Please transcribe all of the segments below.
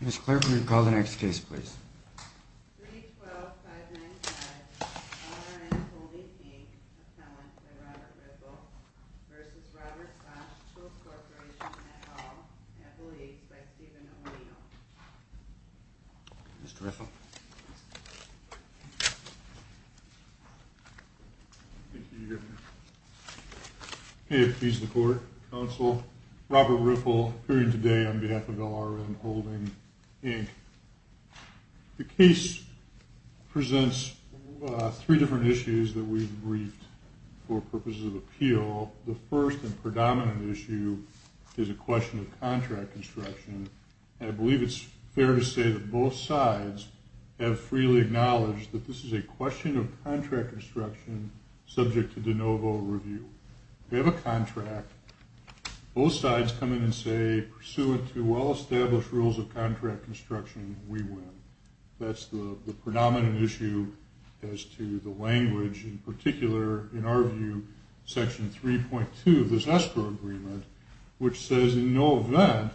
Ms. Clarke, will you call the next case, please? 312-595-LRN Holding, Inc. Assemblance by Robert Riffle v. Robert Bosch Tool Corporation, et al. Appellees by Stephen O'Neill. Mr. Riffle. Thank you, Your Honor. May it please the Court, Counsel. Robert Riffle, appearing today on behalf of LRN Holding, Inc. The case presents three different issues that we've briefed for purposes of appeal. The first and predominant issue is a question of contract construction, and I believe it's fair to say that both sides have freely acknowledged that this is a question of contract construction subject to de novo review. We have a contract. Both sides come in and say, pursuant to well-established rules of contract construction, we win. That's the predominant issue as to the language, in particular, in our view, Section 3.2 of this escrow agreement, which says, in no event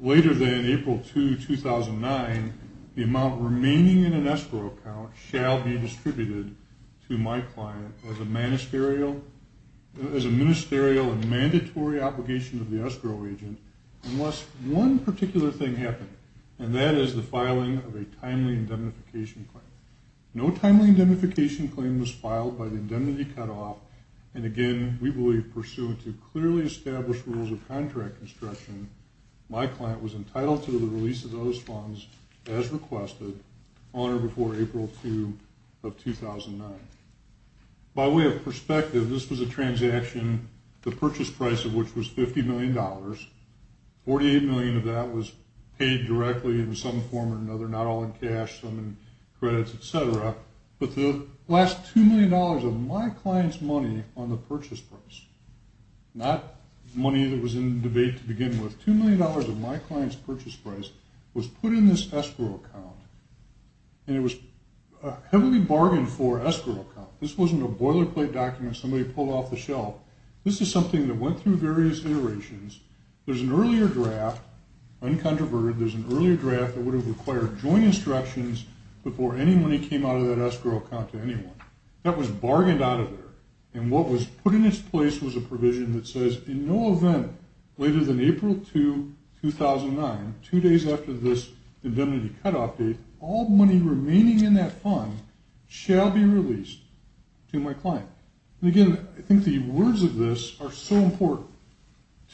later than April 2, 2009, the amount remaining in an escrow account shall be distributed to my client as a ministerial and mandatory obligation of the escrow agent unless one particular thing happens, and that is the filing of a timely indemnification claim. No timely indemnification claim was filed by the indemnity cutoff, and again, we believe, pursuant to clearly established rules of contract construction, my client was entitled to the release of those funds as requested on or before April 2 of 2009. By way of perspective, this was a transaction, the purchase price of which was $50 million. $48 million of that was paid directly in some form or another, not all in cash, some in credits, et cetera, but the last $2 million of my client's money on the purchase price, not money that was in debate to begin with, $2 million of my client's purchase price was put in this escrow account, and it was heavily bargained for escrow account. This wasn't a boilerplate document somebody pulled off the shelf. This is something that went through various iterations. There's an earlier draft, uncontroverted. There's an earlier draft that would have required joint instructions before any money came out of that escrow account to anyone. That was bargained out of there, and what was put in its place was a provision that says, in no event later than April 2, 2009, two days after this indemnity cutoff date, all money remaining in that fund shall be released to my client. And again, I think the words of this are so important.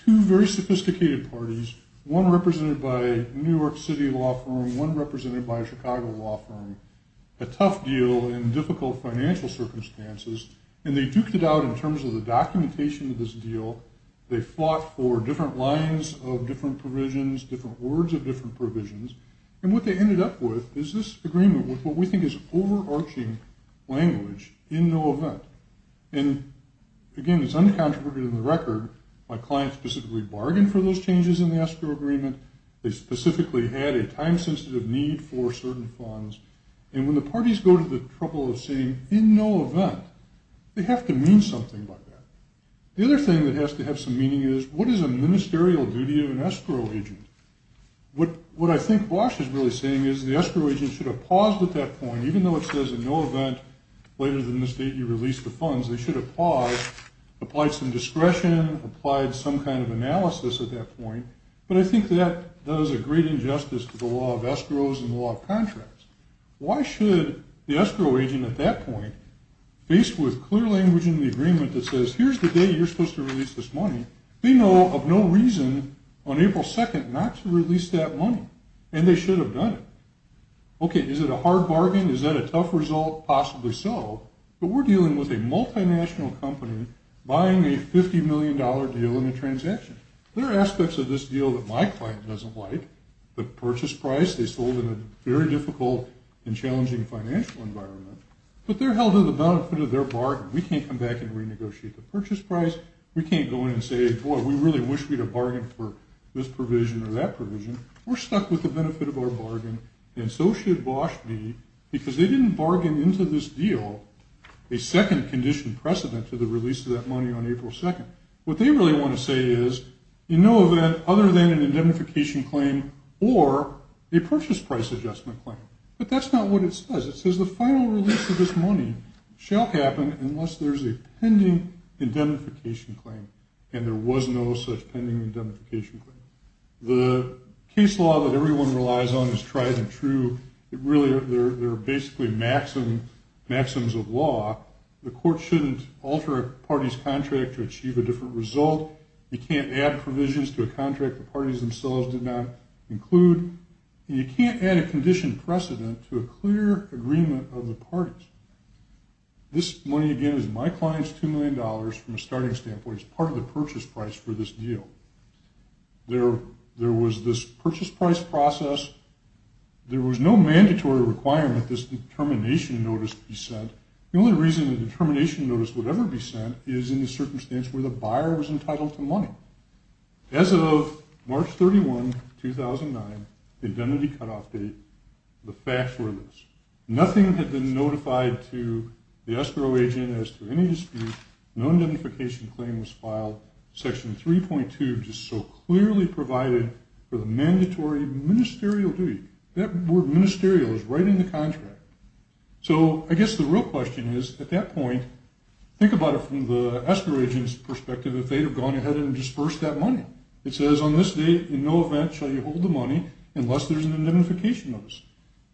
Two very sophisticated parties, one represented by a New York City law firm, one represented by a Chicago law firm, a tough deal in difficult financial circumstances, and they duked it out in terms of the documentation of this deal. They fought for different lines of different provisions, different words of different provisions, and what they ended up with is this agreement with what we think is overarching language, in no event. And again, it's uncontroverted in the record. My client specifically bargained for those changes in the escrow agreement. They specifically had a time-sensitive need for certain funds. And when the parties go to the trouble of saying, in no event, they have to mean something like that. The other thing that has to have some meaning is, what is a ministerial duty of an escrow agent? What I think Walsh is really saying is the escrow agent should have paused at that point, even though it says, in no event, later than this date you release the funds. They should have paused, applied some discretion, applied some kind of analysis at that point. But I think that does a great injustice to the law of escrows and the law of contracts. Why should the escrow agent at that point, faced with clear language in the agreement that says, here's the date you're supposed to release this money, they know of no reason on April 2nd not to release that money, and they should have done it. Okay, is it a hard bargain? Is that a tough result? Possibly so. But we're dealing with a multinational company buying a $50 million deal in a transaction. There are aspects of this deal that my client doesn't like. The purchase price they sold in a very difficult and challenging financial environment. But they're held to the benefit of their bargain. We can't come back and renegotiate the purchase price. We can't go in and say, boy, we really wish we'd have bargained for this provision or that provision. We're stuck with the benefit of our bargain, and so should Walsh be because they didn't bargain into this deal a second condition precedent to the release of that money on April 2nd. What they really want to say is in no event other than an indemnification claim or a purchase price adjustment claim. But that's not what it says. It says the final release of this money shall happen unless there's a pending indemnification claim, and there was no such pending indemnification claim. The case law that everyone relies on is tried and true. There are basically maxims of law. The court shouldn't alter a party's contract to achieve a different result. You can't add provisions to a contract the parties themselves did not include. And you can't add a condition precedent to a clear agreement of the parties. This money, again, is my client's $2 million from a starting standpoint. It's part of the purchase price for this deal. There was this purchase price process. There was no mandatory requirement this termination notice be sent. The only reason the termination notice would ever be sent is in the circumstance where the buyer was entitled to money. As of March 31, 2009, the indemnity cutoff date, the facts were this. Nothing had been notified to the escrow agent as to any dispute. No indemnification claim was filed. Section 3.2 just so clearly provided for the mandatory ministerial duty. That word ministerial is right in the contract. So I guess the real question is at that point, think about it from the escrow agent's perspective, if they'd have gone ahead and dispersed that money. It says on this date in no event shall you hold the money unless there's an indemnification notice.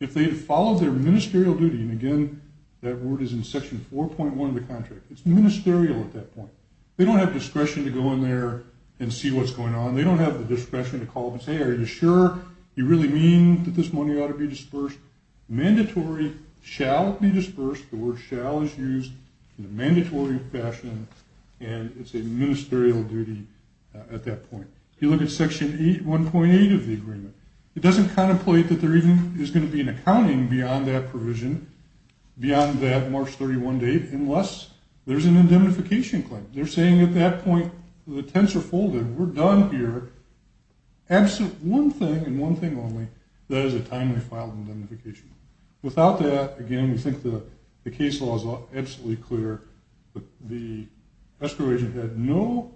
If they'd have followed their ministerial duty, and, again, that word is in Section 4.1 of the contract, it's ministerial at that point. They don't have discretion to go in there and see what's going on. They don't have the discretion to call up and say, are you sure you really mean that this money ought to be dispersed? Mandatory shall be dispersed. The word shall is used in a mandatory fashion, and it's a ministerial duty at that point. If you look at Section 1.8 of the agreement, it doesn't contemplate that there even is going to be an accounting beyond that provision, beyond that March 31 date, unless there's an indemnification claim. They're saying at that point the tents are folded. We're done here. One thing and one thing only, that is a timely filed indemnification. Without that, again, we think the case law is absolutely clear, but the escrow agent had no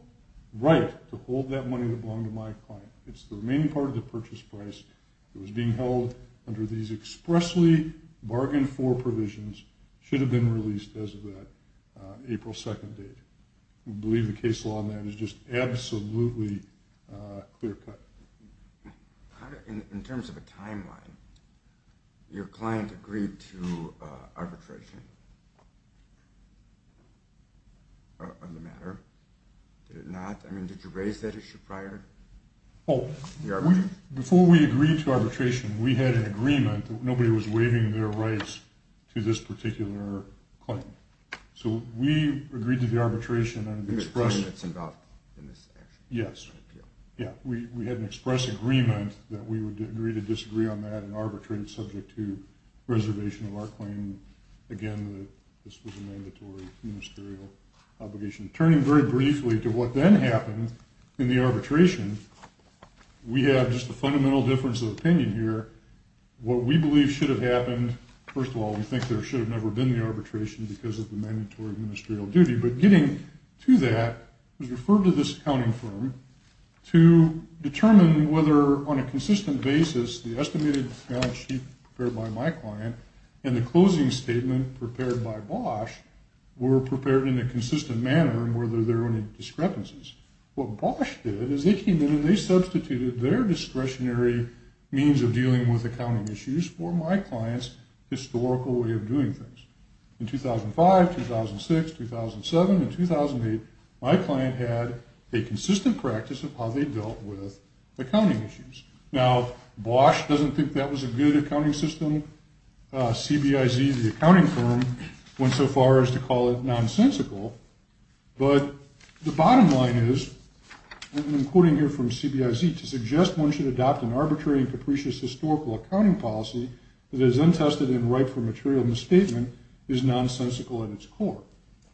right to hold that money that belonged to my client. It's the remaining part of the purchase price that was being held under these expressly bargained-for provisions, should have been released as of that April 2nd date. We believe the case law on that is just absolutely clear-cut. In terms of a timeline, your client agreed to arbitration on the matter? Did it not? I mean, did you raise that issue prior? Before we agreed to arbitration, we had an agreement that nobody was waiving their rights to this particular client. So we agreed to the arbitration on an express- The person that's involved in this action? Yes. Yeah, we had an express agreement that we would agree to disagree on that and arbitrate subject to reservation of our claim. Again, this was a mandatory ministerial obligation. Turning very briefly to what then happened in the arbitration, we have just the fundamental difference of opinion here. What we believe should have happened, first of all, we think there should have never been the arbitration because of the mandatory ministerial duty. But getting to that, it was referred to this accounting firm to determine whether on a consistent basis the estimated balance sheet prepared by my client and the closing statement prepared by Bosch were prepared in a consistent manner and whether there were any discrepancies. What Bosch did is they came in and they substituted their discretionary means of dealing with accounting issues for my client's historical way of doing things. In 2005, 2006, 2007, and 2008, my client had a consistent practice of how they dealt with accounting issues. Now, Bosch doesn't think that was a good accounting system. CBIZ, the accounting firm, went so far as to call it nonsensical. But the bottom line is, and I'm quoting here from CBIZ, to suggest one should adopt an arbitrary and capricious historical accounting policy that is untested and ripe for material misstatement is nonsensical at its core.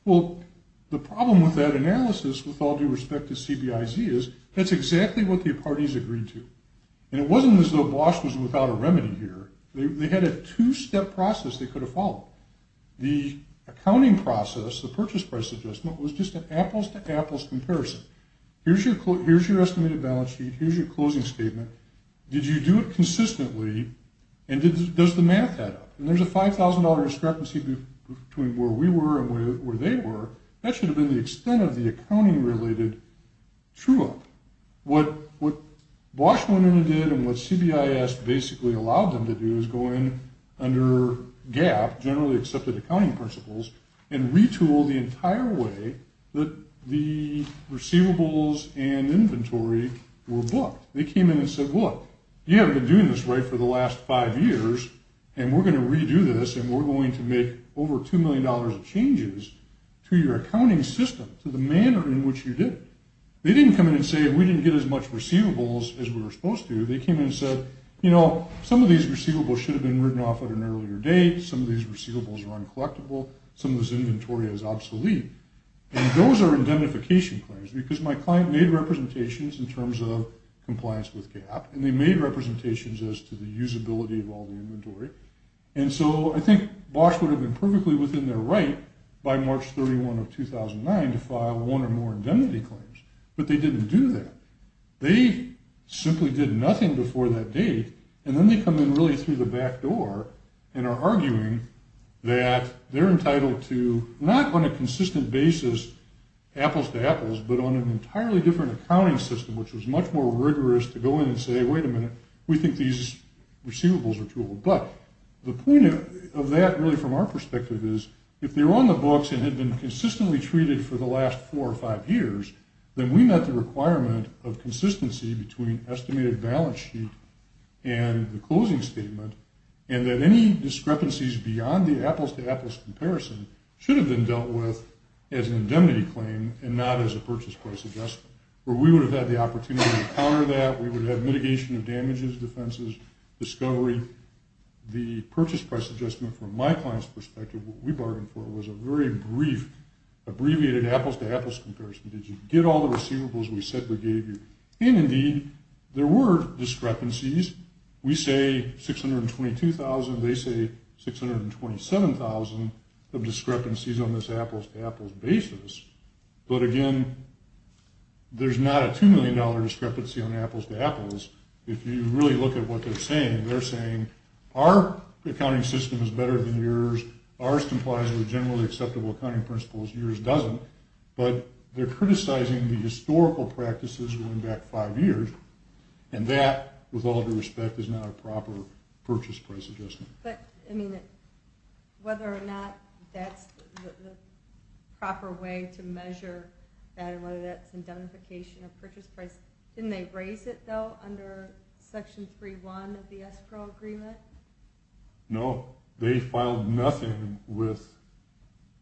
Well, the problem with that analysis, with all due respect to CBIZ, is that's exactly what the parties agreed to. And it wasn't as though Bosch was without a remedy here. They had a two-step process they could have followed. The accounting process, the purchase price adjustment, was just an apples-to-apples comparison. Here's your estimated balance sheet. Here's your closing statement. Did you do it consistently? And does the math add up? And there's a $5,000 discrepancy between where we were and where they were. That should have been the extent of the accounting-related true-up. What Bosch went in and did, and what CBIZ basically allowed them to do, is go in under GAAP, generally accepted accounting principles, and retool the entire way that the receivables and inventory were booked. They came in and said, look, you haven't been doing this right for the last five years, and we're going to redo this, and we're going to make over $2 million of changes to your accounting system, to the manner in which you did it. They didn't come in and say we didn't get as much receivables as we were supposed to. They came in and said, you know, some of these receivables should have been written off at an earlier date. Some of these receivables were uncollectable. Some of this inventory is obsolete. And those are indemnification claims, because my client made representations in terms of compliance with GAAP, and they made representations as to the usability of all the inventory. And so I think Bosch would have been perfectly within their right by March 31 of 2009 to file one or more indemnity claims, but they didn't do that. They simply did nothing before that date, and then they come in really through the back door and are arguing that they're entitled to not on a consistent basis apples to apples, but on an entirely different accounting system, which was much more rigorous to go in and say, wait a minute, we think these receivables are too old. But the point of that really from our perspective is if they were on the books and had been consistently treated for the last four or five years, then we met the requirement of consistency between estimated balance sheet and the closing statement, and that any discrepancies beyond the apples to apples comparison should have been dealt with as an indemnity claim and not as a purchase price adjustment, where we would have had the opportunity to counter that. We would have mitigation of damages, defenses, discovery. The purchase price adjustment from my client's perspective, what we bargained for was a very brief, abbreviated apples to apples comparison. Did you get all the receivables we said we gave you? And indeed, there were discrepancies. We say 622,000. They say 627,000 of discrepancies on this apples to apples basis. But again, there's not a $2 million discrepancy on apples to apples. If you really look at what they're saying, they're saying our accounting system is better than yours. Ours complies with generally acceptable accounting principles. Yours doesn't. But they're criticizing the historical practices going back five years, and that, with all due respect, is not a proper purchase price adjustment. But, I mean, whether or not that's the proper way to measure that and whether that's indemnification or purchase price, didn't they raise it, though, under Section 3.1 of the escrow agreement? No. They filed nothing with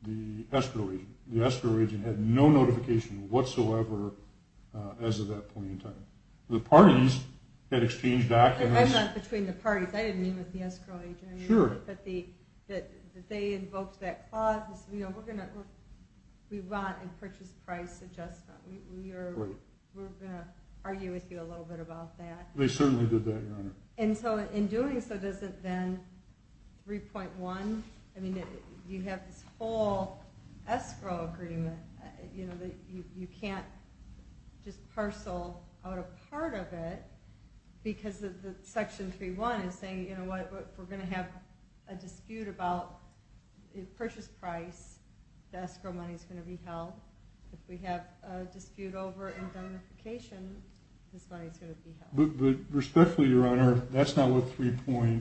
the escrow agent. The escrow agent had no notification whatsoever as of that point in time. The parties had exchanged documents. I'm not between the parties. I didn't mean with the escrow agent. Sure. But they invoked that clause, you know, we want a purchase price adjustment. We're going to argue with you a little bit about that. They certainly did that, Your Honor. And so in doing so, does it then 3.1? I mean, you have this whole escrow agreement, you know, that you can't just parcel out a part of it because Section 3.1 is saying, you know what, we're going to have a dispute about purchase price. The escrow money is going to be held. If we have a dispute over indemnification, this money is going to be held. Respectfully, Your Honor, that's not what 3.1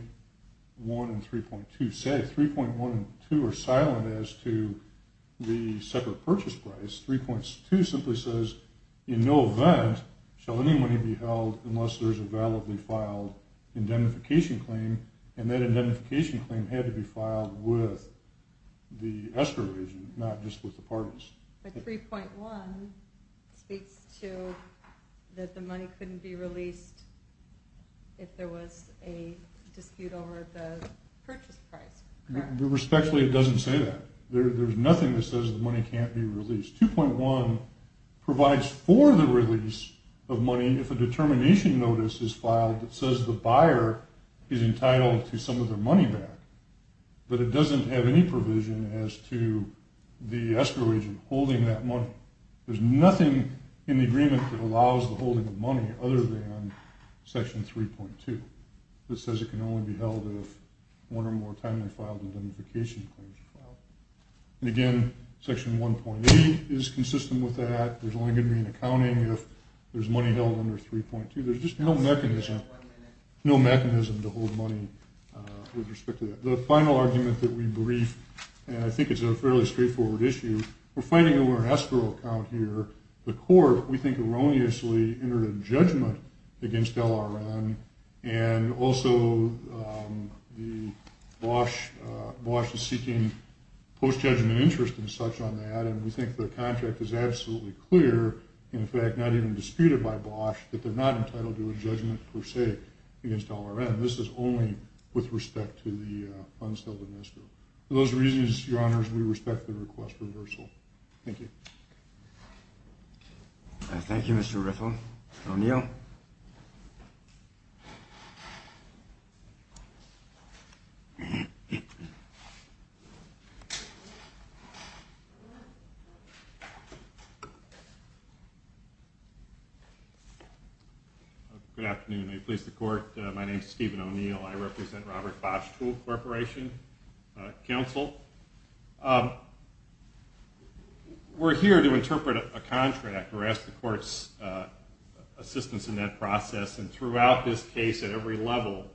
and 3.2 say. 3.1 and 3.2 are silent as to the separate purchase price. 3.2 simply says in no event shall any money be held unless there's a validly filed indemnification claim, and that indemnification claim had to be filed with the escrow agent, not just with the parties. But 3.1 speaks to that the money couldn't be released if there was a dispute over the purchase price. Respectfully, it doesn't say that. There's nothing that says the money can't be released. 2.1 provides for the release of money if a determination notice is filed that says the buyer is entitled to some of their money back. But it doesn't have any provision as to the escrow agent holding that money. There's nothing in the agreement that allows the holding of money other than Section 3.2 that says it can only be held if one or more timely filed indemnification claims are filed. And, again, Section 1.8 is consistent with that. There's only going to be an accounting if there's money held under 3.2. There's just no mechanism to hold money with respect to that. The final argument that we brief, and I think it's a fairly straightforward issue, we're fighting over an escrow account here. The court, we think, erroneously entered a judgment against LRN, and also the BOSH is seeking post-judgment interest and such on that, and we think the contract is absolutely clear, in fact, not even disputed by BOSH, that they're not entitled to a judgment, per se, against LRN. This is only with respect to the unstilled domesto. For those reasons, Your Honors, we respect the request for reversal. Thank you. Thank you, Mr. Riffle. O'Neill. Good afternoon. May it please the Court, my name is Stephen O'Neill. I represent Robert BOSH Tool Corporation Council. We're here to interpret a contract. We're asking the Court's assistance in that process, and throughout this case at every level,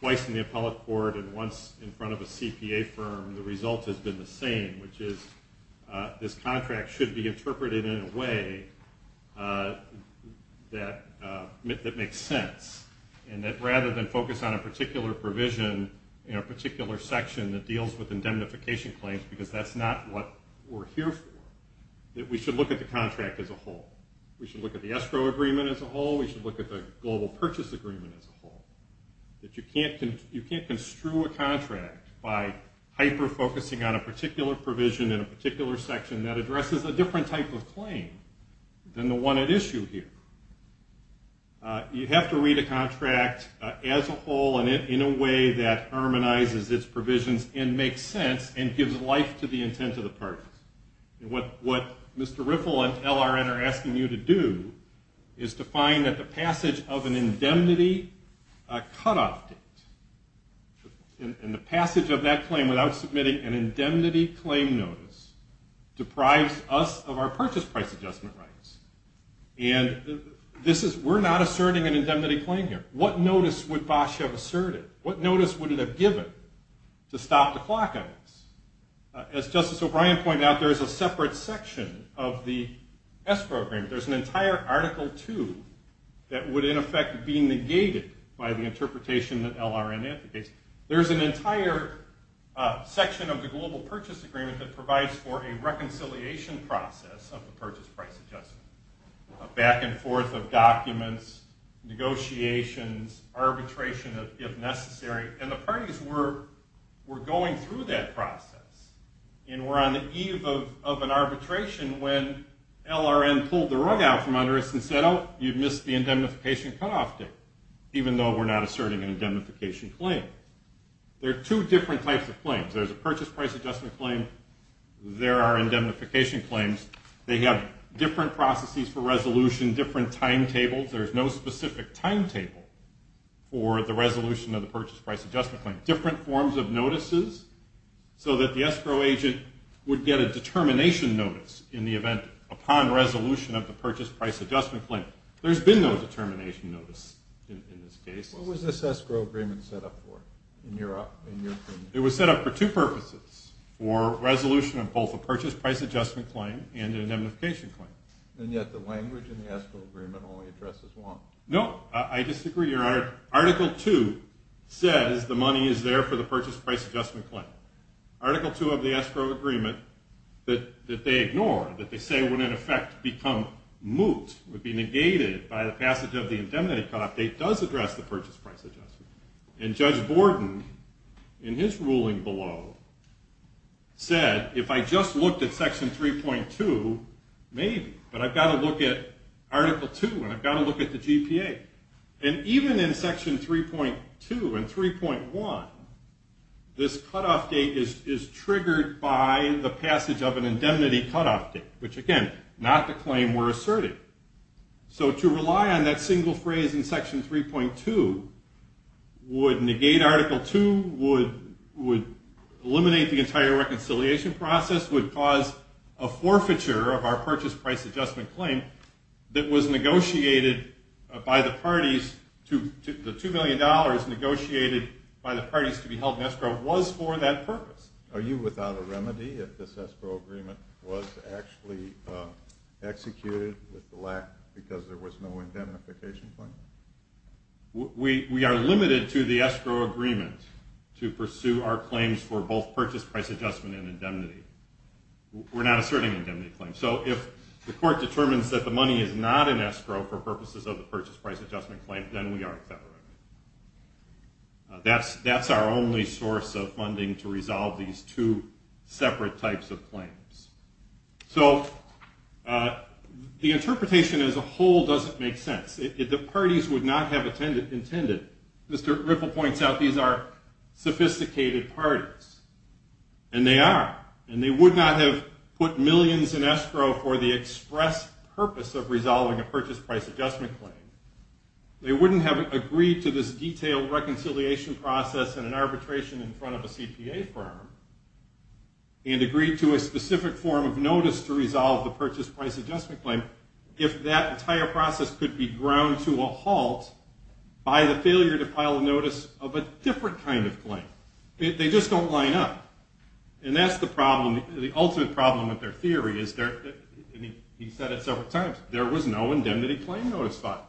twice in the appellate court and once in front of a CPA firm, the result has been the same, which is this contract should be interpreted in a way that makes sense, and that rather than focus on a particular provision in a particular section that deals with indemnification claims, because that's not what we're here for, that we should look at the contract as a whole. We should look at the escrow agreement as a whole. We should look at the global purchase agreement as a whole, that you can't construe a contract by hyper-focusing on a particular provision in a particular section that addresses a different type of claim than the one at issue here. You have to read a contract as a whole and in a way that harmonizes its provisions and makes sense and gives life to the intent of the purchase. What Mr. Riffle and LRN are asking you to do is to find that the passage of an indemnity cutoff date, and the passage of that claim without submitting an indemnity claim notice, deprives us of our purchase price adjustment rights. And we're not asserting an indemnity claim here. What notice would Bosch have asserted? What notice would it have given to stop the clock on this? As Justice O'Brien pointed out, there is a separate section of the escrow agreement. There's an entire Article II that would in effect be negated by the interpretation that LRN advocates. There's an entire section of the global purchase agreement that provides for a reconciliation process of the purchase price adjustment, a back and forth of documents, negotiations, arbitration if necessary. And the parties were going through that process and were on the eve of an arbitration when LRN pulled the rug out from under us and said, oh, you've missed the indemnification cutoff date, even though we're not asserting an indemnification claim. There are two different types of claims. There's a purchase price adjustment claim. There are indemnification claims. They have different processes for resolution, different timetables. There's no specific timetable for the resolution of the purchase price adjustment claim. Different forms of notices so that the escrow agent would get a determination notice in the event upon resolution of the purchase price adjustment claim. There's been no determination notice in this case. What was this escrow agreement set up for in your opinion? It was set up for two purposes, for resolution of both a purchase price adjustment claim and an indemnification claim. And yet the language in the escrow agreement only addresses one. No, I disagree. Article 2 says the money is there for the purchase price adjustment claim. Article 2 of the escrow agreement that they ignore, that they say would in effect become moot, would be negated by the passage of the indemnity cutoff date, does address the purchase price adjustment. And Judge Borden, in his ruling below, said, if I just looked at Section 3.2, maybe. But I've got to look at Article 2, and I've got to look at the GPA. And even in Section 3.2 and 3.1, this cutoff date is triggered by the passage of an indemnity cutoff date, which again, not the claim we're asserting. So to rely on that single phrase in Section 3.2 would negate Article 2, would eliminate the entire reconciliation process, would cause a forfeiture of our purchase price adjustment claim that was negotiated by the parties, the $2 million negotiated by the parties to be held in escrow was for that purpose. Are you without a remedy if this escrow agreement was actually executed with the lack because there was no indemnification claim? We are limited to the escrow agreement to pursue our claims for both purchase price adjustment and indemnity. We're not asserting indemnity claims. So if the court determines that the money is not in escrow for purposes of the purchase price adjustment claim, then we are exonerated. That's our only source of funding to resolve these two separate types of claims. So the interpretation as a whole doesn't make sense. The parties would not have intended, Mr. Ripple points out, these are sophisticated parties. And they are. And they would not have put millions in escrow for the express purpose of resolving a purchase price adjustment claim. They wouldn't have agreed to this detailed reconciliation process and an arbitration in front of a CPA firm and agreed to a specific form of notice to resolve the purchase price adjustment claim if that entire process could be ground to a halt by the failure to file a notice of a different kind of claim. They just don't line up. And that's the problem, the ultimate problem with their theory. He said it several times. There was no indemnity claim notice filed.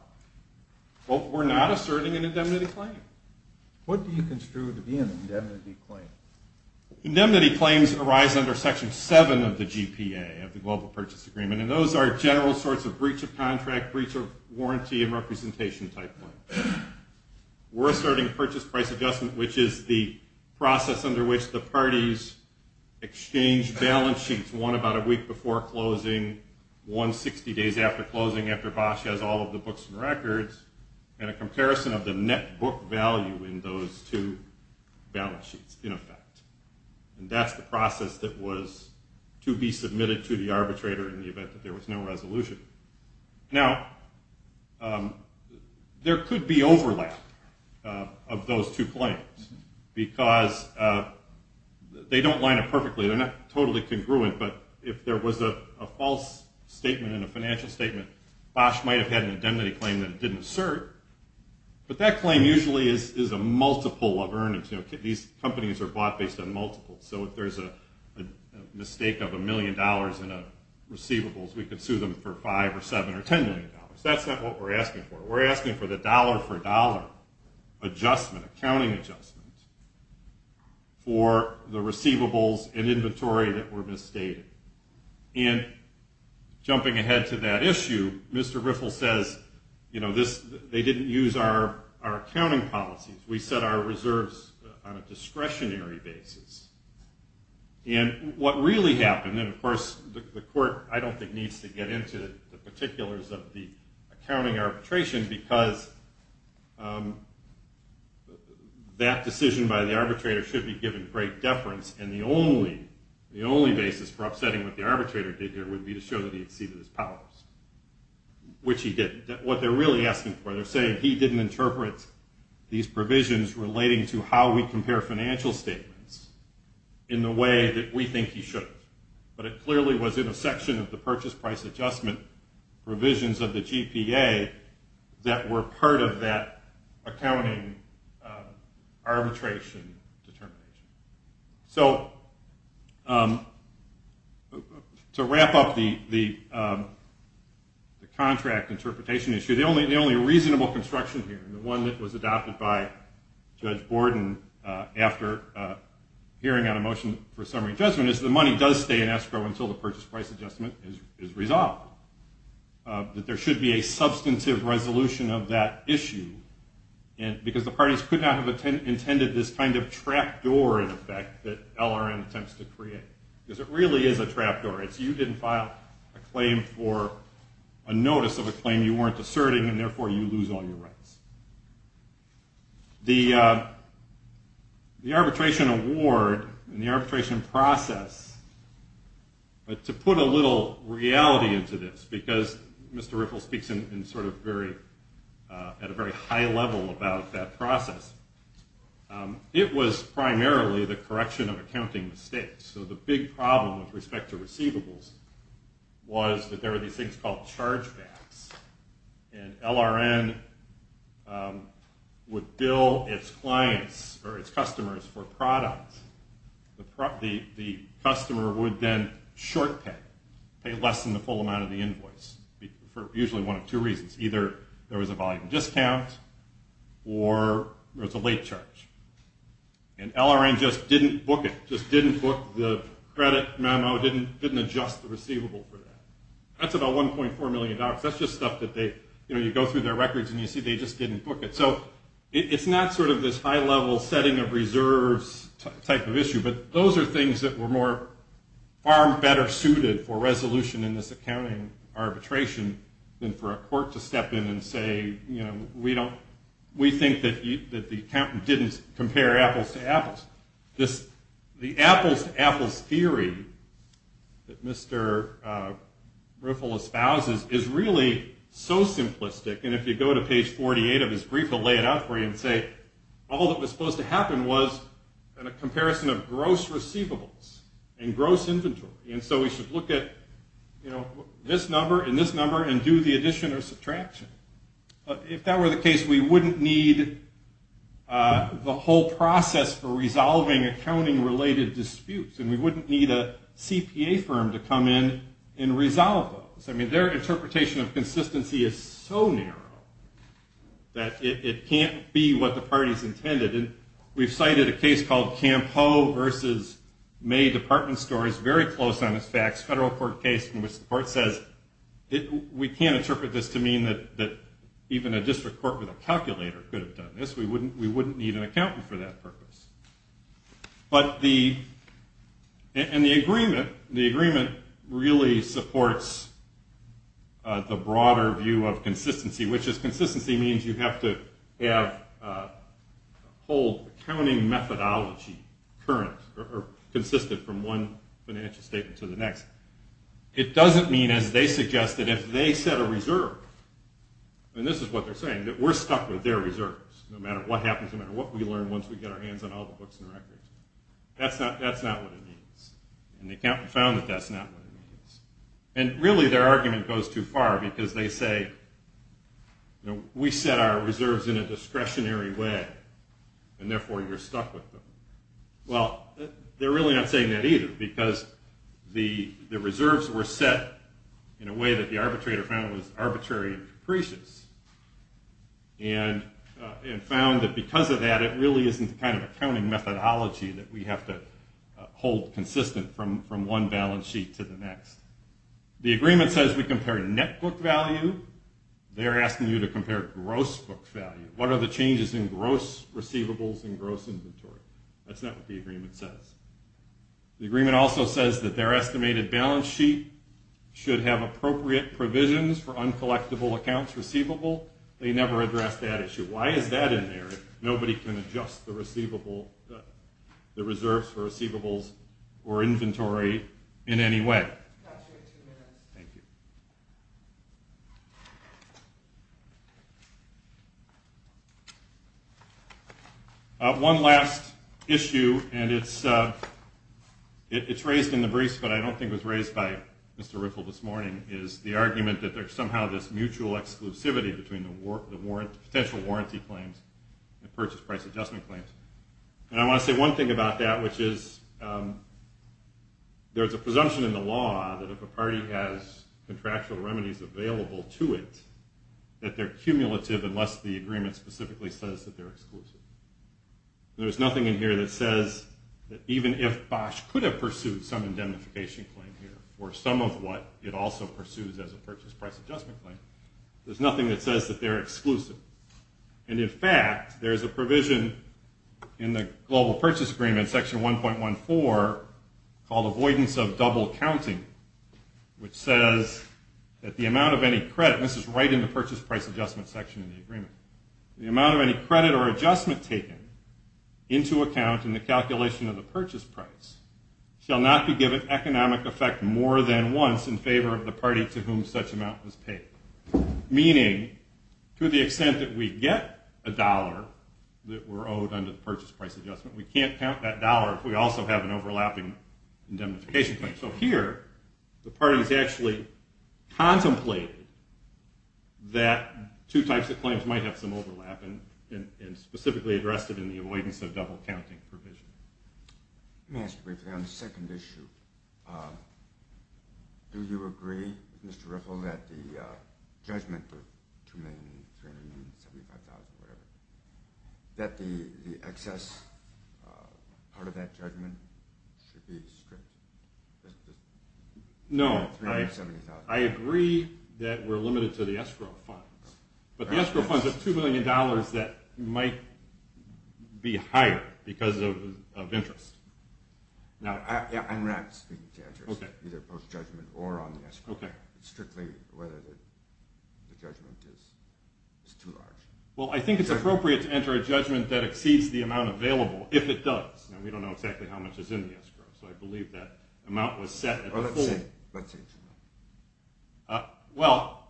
We're not asserting an indemnity claim. What do you construe to be an indemnity claim? Indemnity claims arise under Section 7 of the GPA, of the Global Purchase Agreement, and those are general sorts of breach of contract, breach of warranty, and representation type claims. We're asserting purchase price adjustment, which is the process under which the parties exchange balance sheets, one about a week before closing, one 60 days after closing, after Bosch has all of the books and records, and a comparison of the net book value in those two balance sheets, in effect. And that's the process that was to be submitted to the arbitrator in the event that there was no resolution. Now, there could be overlap of those two claims because they don't line up perfectly. They're not totally congruent, but if there was a false statement in a financial statement, Bosch might have had an indemnity claim that it didn't assert, but that claim usually is a multiple of earnings. These companies are bought based on multiples, so if there's a mistake of $1 million in receivables, we could sue them for $5 or $7 or $10 million. That's not what we're asking for. We're asking for the dollar-for-dollar adjustment, accounting adjustment, for the receivables and inventory that were misstated. And jumping ahead to that issue, Mr. Riffle says they didn't use our accounting policies. We set our reserves on a discretionary basis. And what really happened, and of course the court I don't think needs to get into the particulars of the accounting arbitration because that decision by the arbitrator should be given great deference, and the only basis for upsetting what the arbitrator did here would be to show that he exceeded his powers, which he didn't. What they're really asking for, they're saying he didn't interpret these provisions relating to how we compare financial statements in the way that we think he should have. But it clearly was in a section of the purchase price adjustment provisions of the GPA that were part of that accounting arbitration determination. So to wrap up the contract interpretation issue, the only reasonable construction here, and the one that was adopted by Judge Borden after hearing on a motion for summary adjustment, is the money does stay in escrow until the purchase price adjustment is resolved, that there should be a substantive resolution of that issue because the parties could not have intended this kind of trap door in effect that LRN attempts to create. Because it really is a trap door. It's you didn't file a claim for a notice of a claim you weren't asserting and therefore you lose all your rights. The arbitration award and the arbitration process, to put a little reality into this, because Mr. Ripple speaks at a very high level about that process, it was primarily the correction of accounting mistakes. So the big problem with respect to receivables was that there were these things called chargebacks, and LRN would bill its clients or its customers for products. The customer would then short pay, pay less than the full amount of the invoice, for usually one of two reasons. Either there was a volume discount or there was a late charge. And LRN just didn't book it, just didn't book the credit memo, didn't adjust the receivable for that. That's about $1.4 million. That's just stuff that you go through their records and you see they just didn't book it. So it's not this high-level setting of reserves type of issue, but those are things that were far better suited for resolution in this accounting arbitration than for a court to step in and say, we think that the accountant didn't compare apples to apples. The apples-to-apples theory that Mr. Ripple espouses is really so simplistic, and if you go to page 48 of his brief, he'll lay it out for you and say, all that was supposed to happen was a comparison of gross receivables and gross inventory, and so we should look at this number and this number and do the addition or subtraction. If that were the case, we wouldn't need the whole process for resolving accounting-related disputes, and we wouldn't need a CPA firm to come in and resolve those. Their interpretation of consistency is so narrow that it can't be what the parties intended. We've cited a case called Campo v. May Department Store. It's very close on its facts, a federal court case in which the court says, we can't interpret this to mean that even a district court with a calculator could have done this. We wouldn't need an accountant for that purpose. And the agreement really supports the broader view of consistency, which is consistency means you have to have a whole accounting methodology consistent from one financial statement to the next. It doesn't mean, as they suggested, if they set a reserve, and this is what they're saying, that we're stuck with their reserves no matter what happens, no matter what we learn once we get our hands on all the books and records. That's not what it means. And they found that that's not what it means. And really their argument goes too far, because they say, we set our reserves in a discretionary way, and therefore you're stuck with them. Well, they're really not saying that either, that the arbitrator found was arbitrary and capricious, and found that because of that, it really isn't the kind of accounting methodology that we have to hold consistent from one balance sheet to the next. The agreement says we compare net book value. They're asking you to compare gross book value. What are the changes in gross receivables and gross inventory? That's not what the agreement says. The agreement also says that their estimated balance sheet should have appropriate provisions for uncollectible accounts receivable. They never address that issue. Why is that in there if nobody can adjust the receivables, the reserves for receivables or inventory in any way? One last issue, and it's raised in the briefs, but I don't think it was raised by Mr. Riffle this morning, is the argument that there's somehow this mutual exclusivity between the potential warranty claims and purchase price adjustment claims. I want to say one thing about that, which is there's a presumption in the law that if a party has contractual remedies available to it, that they're cumulative unless the agreement specifically says that they're exclusive. There's nothing in here that says that even if Bosch could have pursued some indemnification claim here or some of what it also pursues as a purchase price adjustment claim, there's nothing that says that they're exclusive. In fact, there's a provision in the Global Purchase Agreement, section 1.14, called avoidance of double counting, which says that the amount of any credit, and this is right in the purchase price adjustment section of the agreement, the amount of any credit or adjustment taken into account in the calculation of the purchase price shall not be given economic effect more than once in favor of the party to whom such amount was paid. Meaning, to the extent that we get a dollar that we're owed under the purchase price adjustment, we can't count that dollar if we also have an overlapping indemnification claim. So here, the parties actually contemplated that two types of claims might have some overlap and specifically addressed it in the avoidance of double counting provision. Let me ask you briefly on the second issue. Do you agree, Mr. Riffle, that the judgment, the $2,375,000 or whatever, that the excess part of that judgment should be stripped? No, I agree that we're limited to the escrow funds. But the escrow funds are $2 million that might be higher because of interest. I'm not speaking to interest, either post-judgment or on the escrow. It's strictly whether the judgment is too large. Well, I think it's appropriate to enter a judgment that exceeds the amount available, if it does. We don't know exactly how much is in the escrow, so I believe that amount was set at the full. Well, let's say it's enough. Well,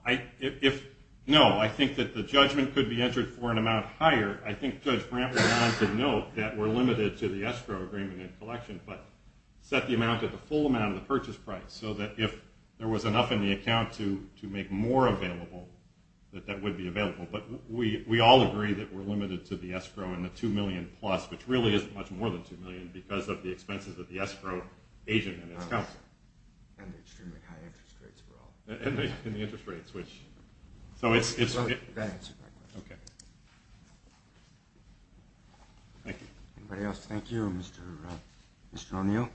no. I think that the judgment could be entered for an amount higher. I think Judge Brantley and I could note that we're limited to the escrow agreement and collection, but set the amount at the full amount of the purchase price, so that if there was enough in the account to make more available, that that would be available. But we all agree that we're limited to the escrow and the $2 million plus, which really is much more than $2 million because of the expenses of the escrow agent and his counsel. And the extremely high interest rates for all. And the interest rates, which... So it's... That answers my question. Okay. Thank you. Anybody else? Thank you, Mr. O'Neill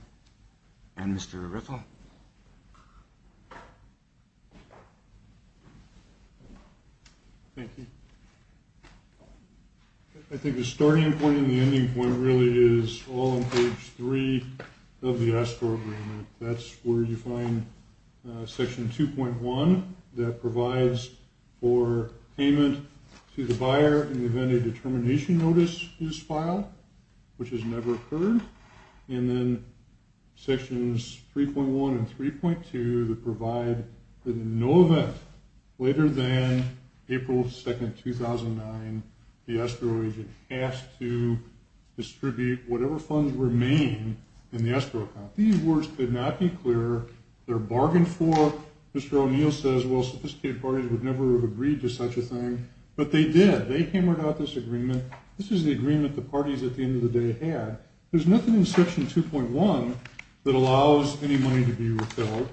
and Mr. Riffel. Thank you. I think the starting point and the ending point really is all on page three of the escrow agreement. That's where you find section 2.1 that provides for payment to the buyer in the event a determination notice is filed, which has never occurred. And then sections 3.1 and 3.2 that provide that in no event later than April 2nd, 2009, the escrow agent has to distribute whatever funds remain in the escrow account. These words could not be clearer. They're bargained for. Mr. O'Neill says, well, sophisticated parties would never have agreed to such a thing. But they did. They hammered out this agreement. This is the agreement the parties at the end of the day had. There's nothing in section 2.1 that allows any money to be repelled.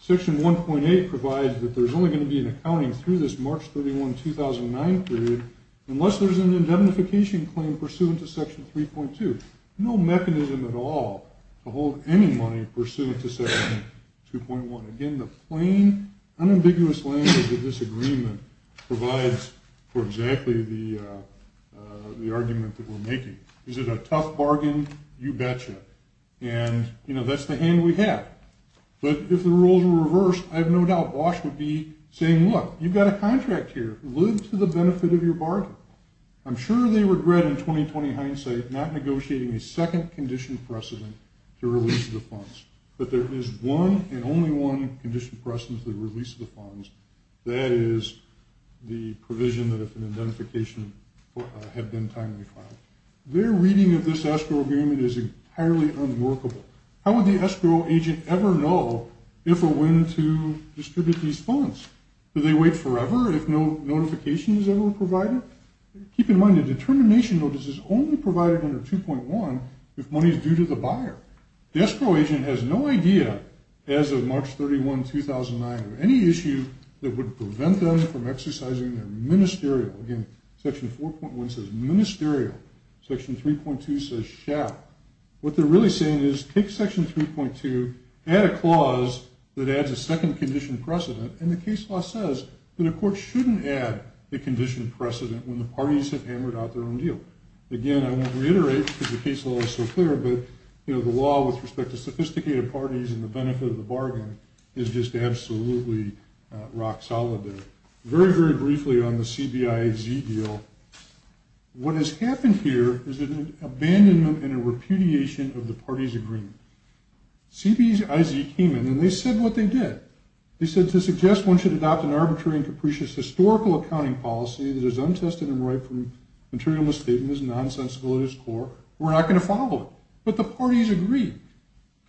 Section 1.8 provides that there's only going to be an accounting through this March 31, 2009 period unless there's an indemnification claim pursuant to section 3.2. No mechanism at all to hold any money pursuant to section 2.1. Again, the plain, unambiguous language of this agreement provides for exactly the argument that we're making. Is it a tough bargain? You betcha. And, you know, that's the hand we have. But if the rules were reversed, I have no doubt Bosch would be saying, look, you've got a contract here. Live to the benefit of your bargain. I'm sure they regret in 2020 hindsight not negotiating a second condition precedent to release the funds. But there is one and only one condition precedent to release the funds. That is the provision that if an indemnification had been timely filed. Their reading of this escrow agreement is entirely unworkable. How would the escrow agent ever know if or when to distribute these funds? Do they wait forever if no notification is ever provided? Keep in mind the determination notice is only provided under 2.1 if money is due to the buyer. The escrow agent has no idea as of March 31, 2009 of any issue that would prevent them from exercising their ministerial. Again, section 4.1 says ministerial. Section 3.2 says SHAP. What they're really saying is take section 3.2, add a clause that adds a second condition precedent, and the case law says that a court shouldn't add a condition precedent when the parties have hammered out their own deal. Again, I won't reiterate because the case law is so clear, but the law with respect to sophisticated parties and the benefit of the bargain is just absolutely rock solid there. Very, very briefly on the CBIZ deal, what has happened here is an abandonment and a repudiation of the parties' agreement. CBIZ came in and they said what they did. They said to suggest one should adopt an arbitrary and capricious historical accounting policy that is untested and derived from material misstatements, nonsensical at its core. We're not going to follow it. But the parties agreed.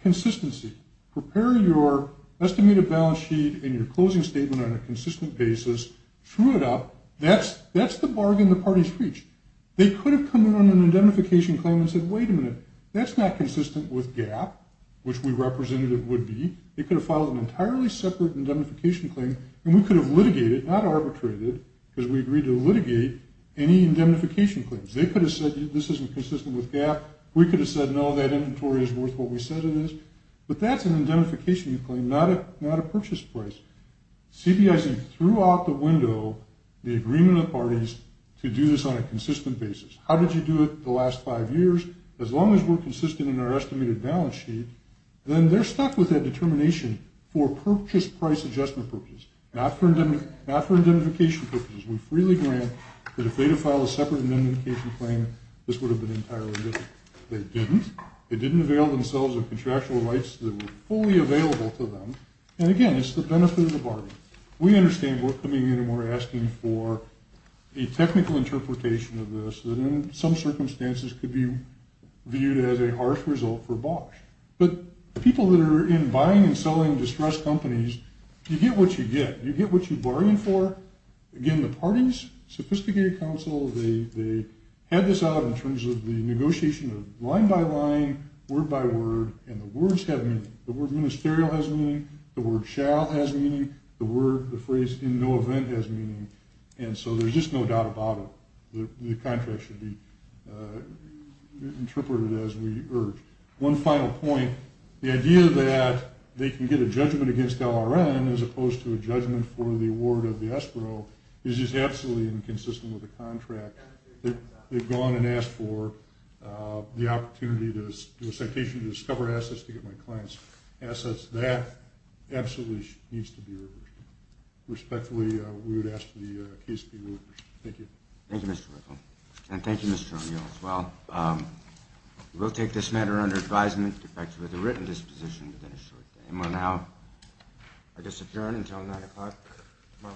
Consistency. Prepare your estimated balance sheet and your closing statement on a consistent basis. True it up. That's the bargain the parties reached. They could have come in on an indemnification claim and said wait a minute, that's not consistent with GAAP, which we represented it would be. They could have filed an entirely separate indemnification claim and we could have litigated, not arbitrated, because we agreed to litigate any indemnification claims. They could have said this isn't consistent with GAAP. We could have said no, that inventory is worth what we said it is. But that's an indemnification claim, not a purchase price. CBIC threw out the window the agreement of the parties to do this on a consistent basis. How did you do it the last five years? As long as we're consistent in our estimated balance sheet, then they're stuck with that determination for purchase price adjustment purposes, not for indemnification purposes. We freely grant that if they had filed a separate indemnification claim, this would have been entirely different. They didn't. They didn't avail themselves of contractual rights that were fully available to them. And, again, it's the benefit of the bargain. We understand we're coming in and we're asking for a technical interpretation of this that in some circumstances could be viewed as a harsh result for Bosch. But the people that are in buying and selling distressed companies, you get what you get. You get what you bargain for. Again, the parties, sophisticated counsel, they had this out in terms of the negotiation of line by line, word by word, and the words have meaning. The word ministerial has meaning. The word shall has meaning. The phrase in no event has meaning. And so there's just no doubt about it. The contract should be interpreted as we urge. One final point. The idea that they can get a judgment against LRN as opposed to a judgment for the award of the ESPRO is just absolutely inconsistent with the contract. They've gone and asked for the opportunity to do a citation to discover assets to get my client's assets. That absolutely needs to be reversed. Respectfully, we would ask that the case be reversed. Thank you. Thank you, Mr. Whittle. And thank you, Mr. O'Neill, as well. We'll take this matter under advisement to effect with a written disposition within a short time. And we'll now, I guess, adjourn until 9 o'clock tomorrow morning.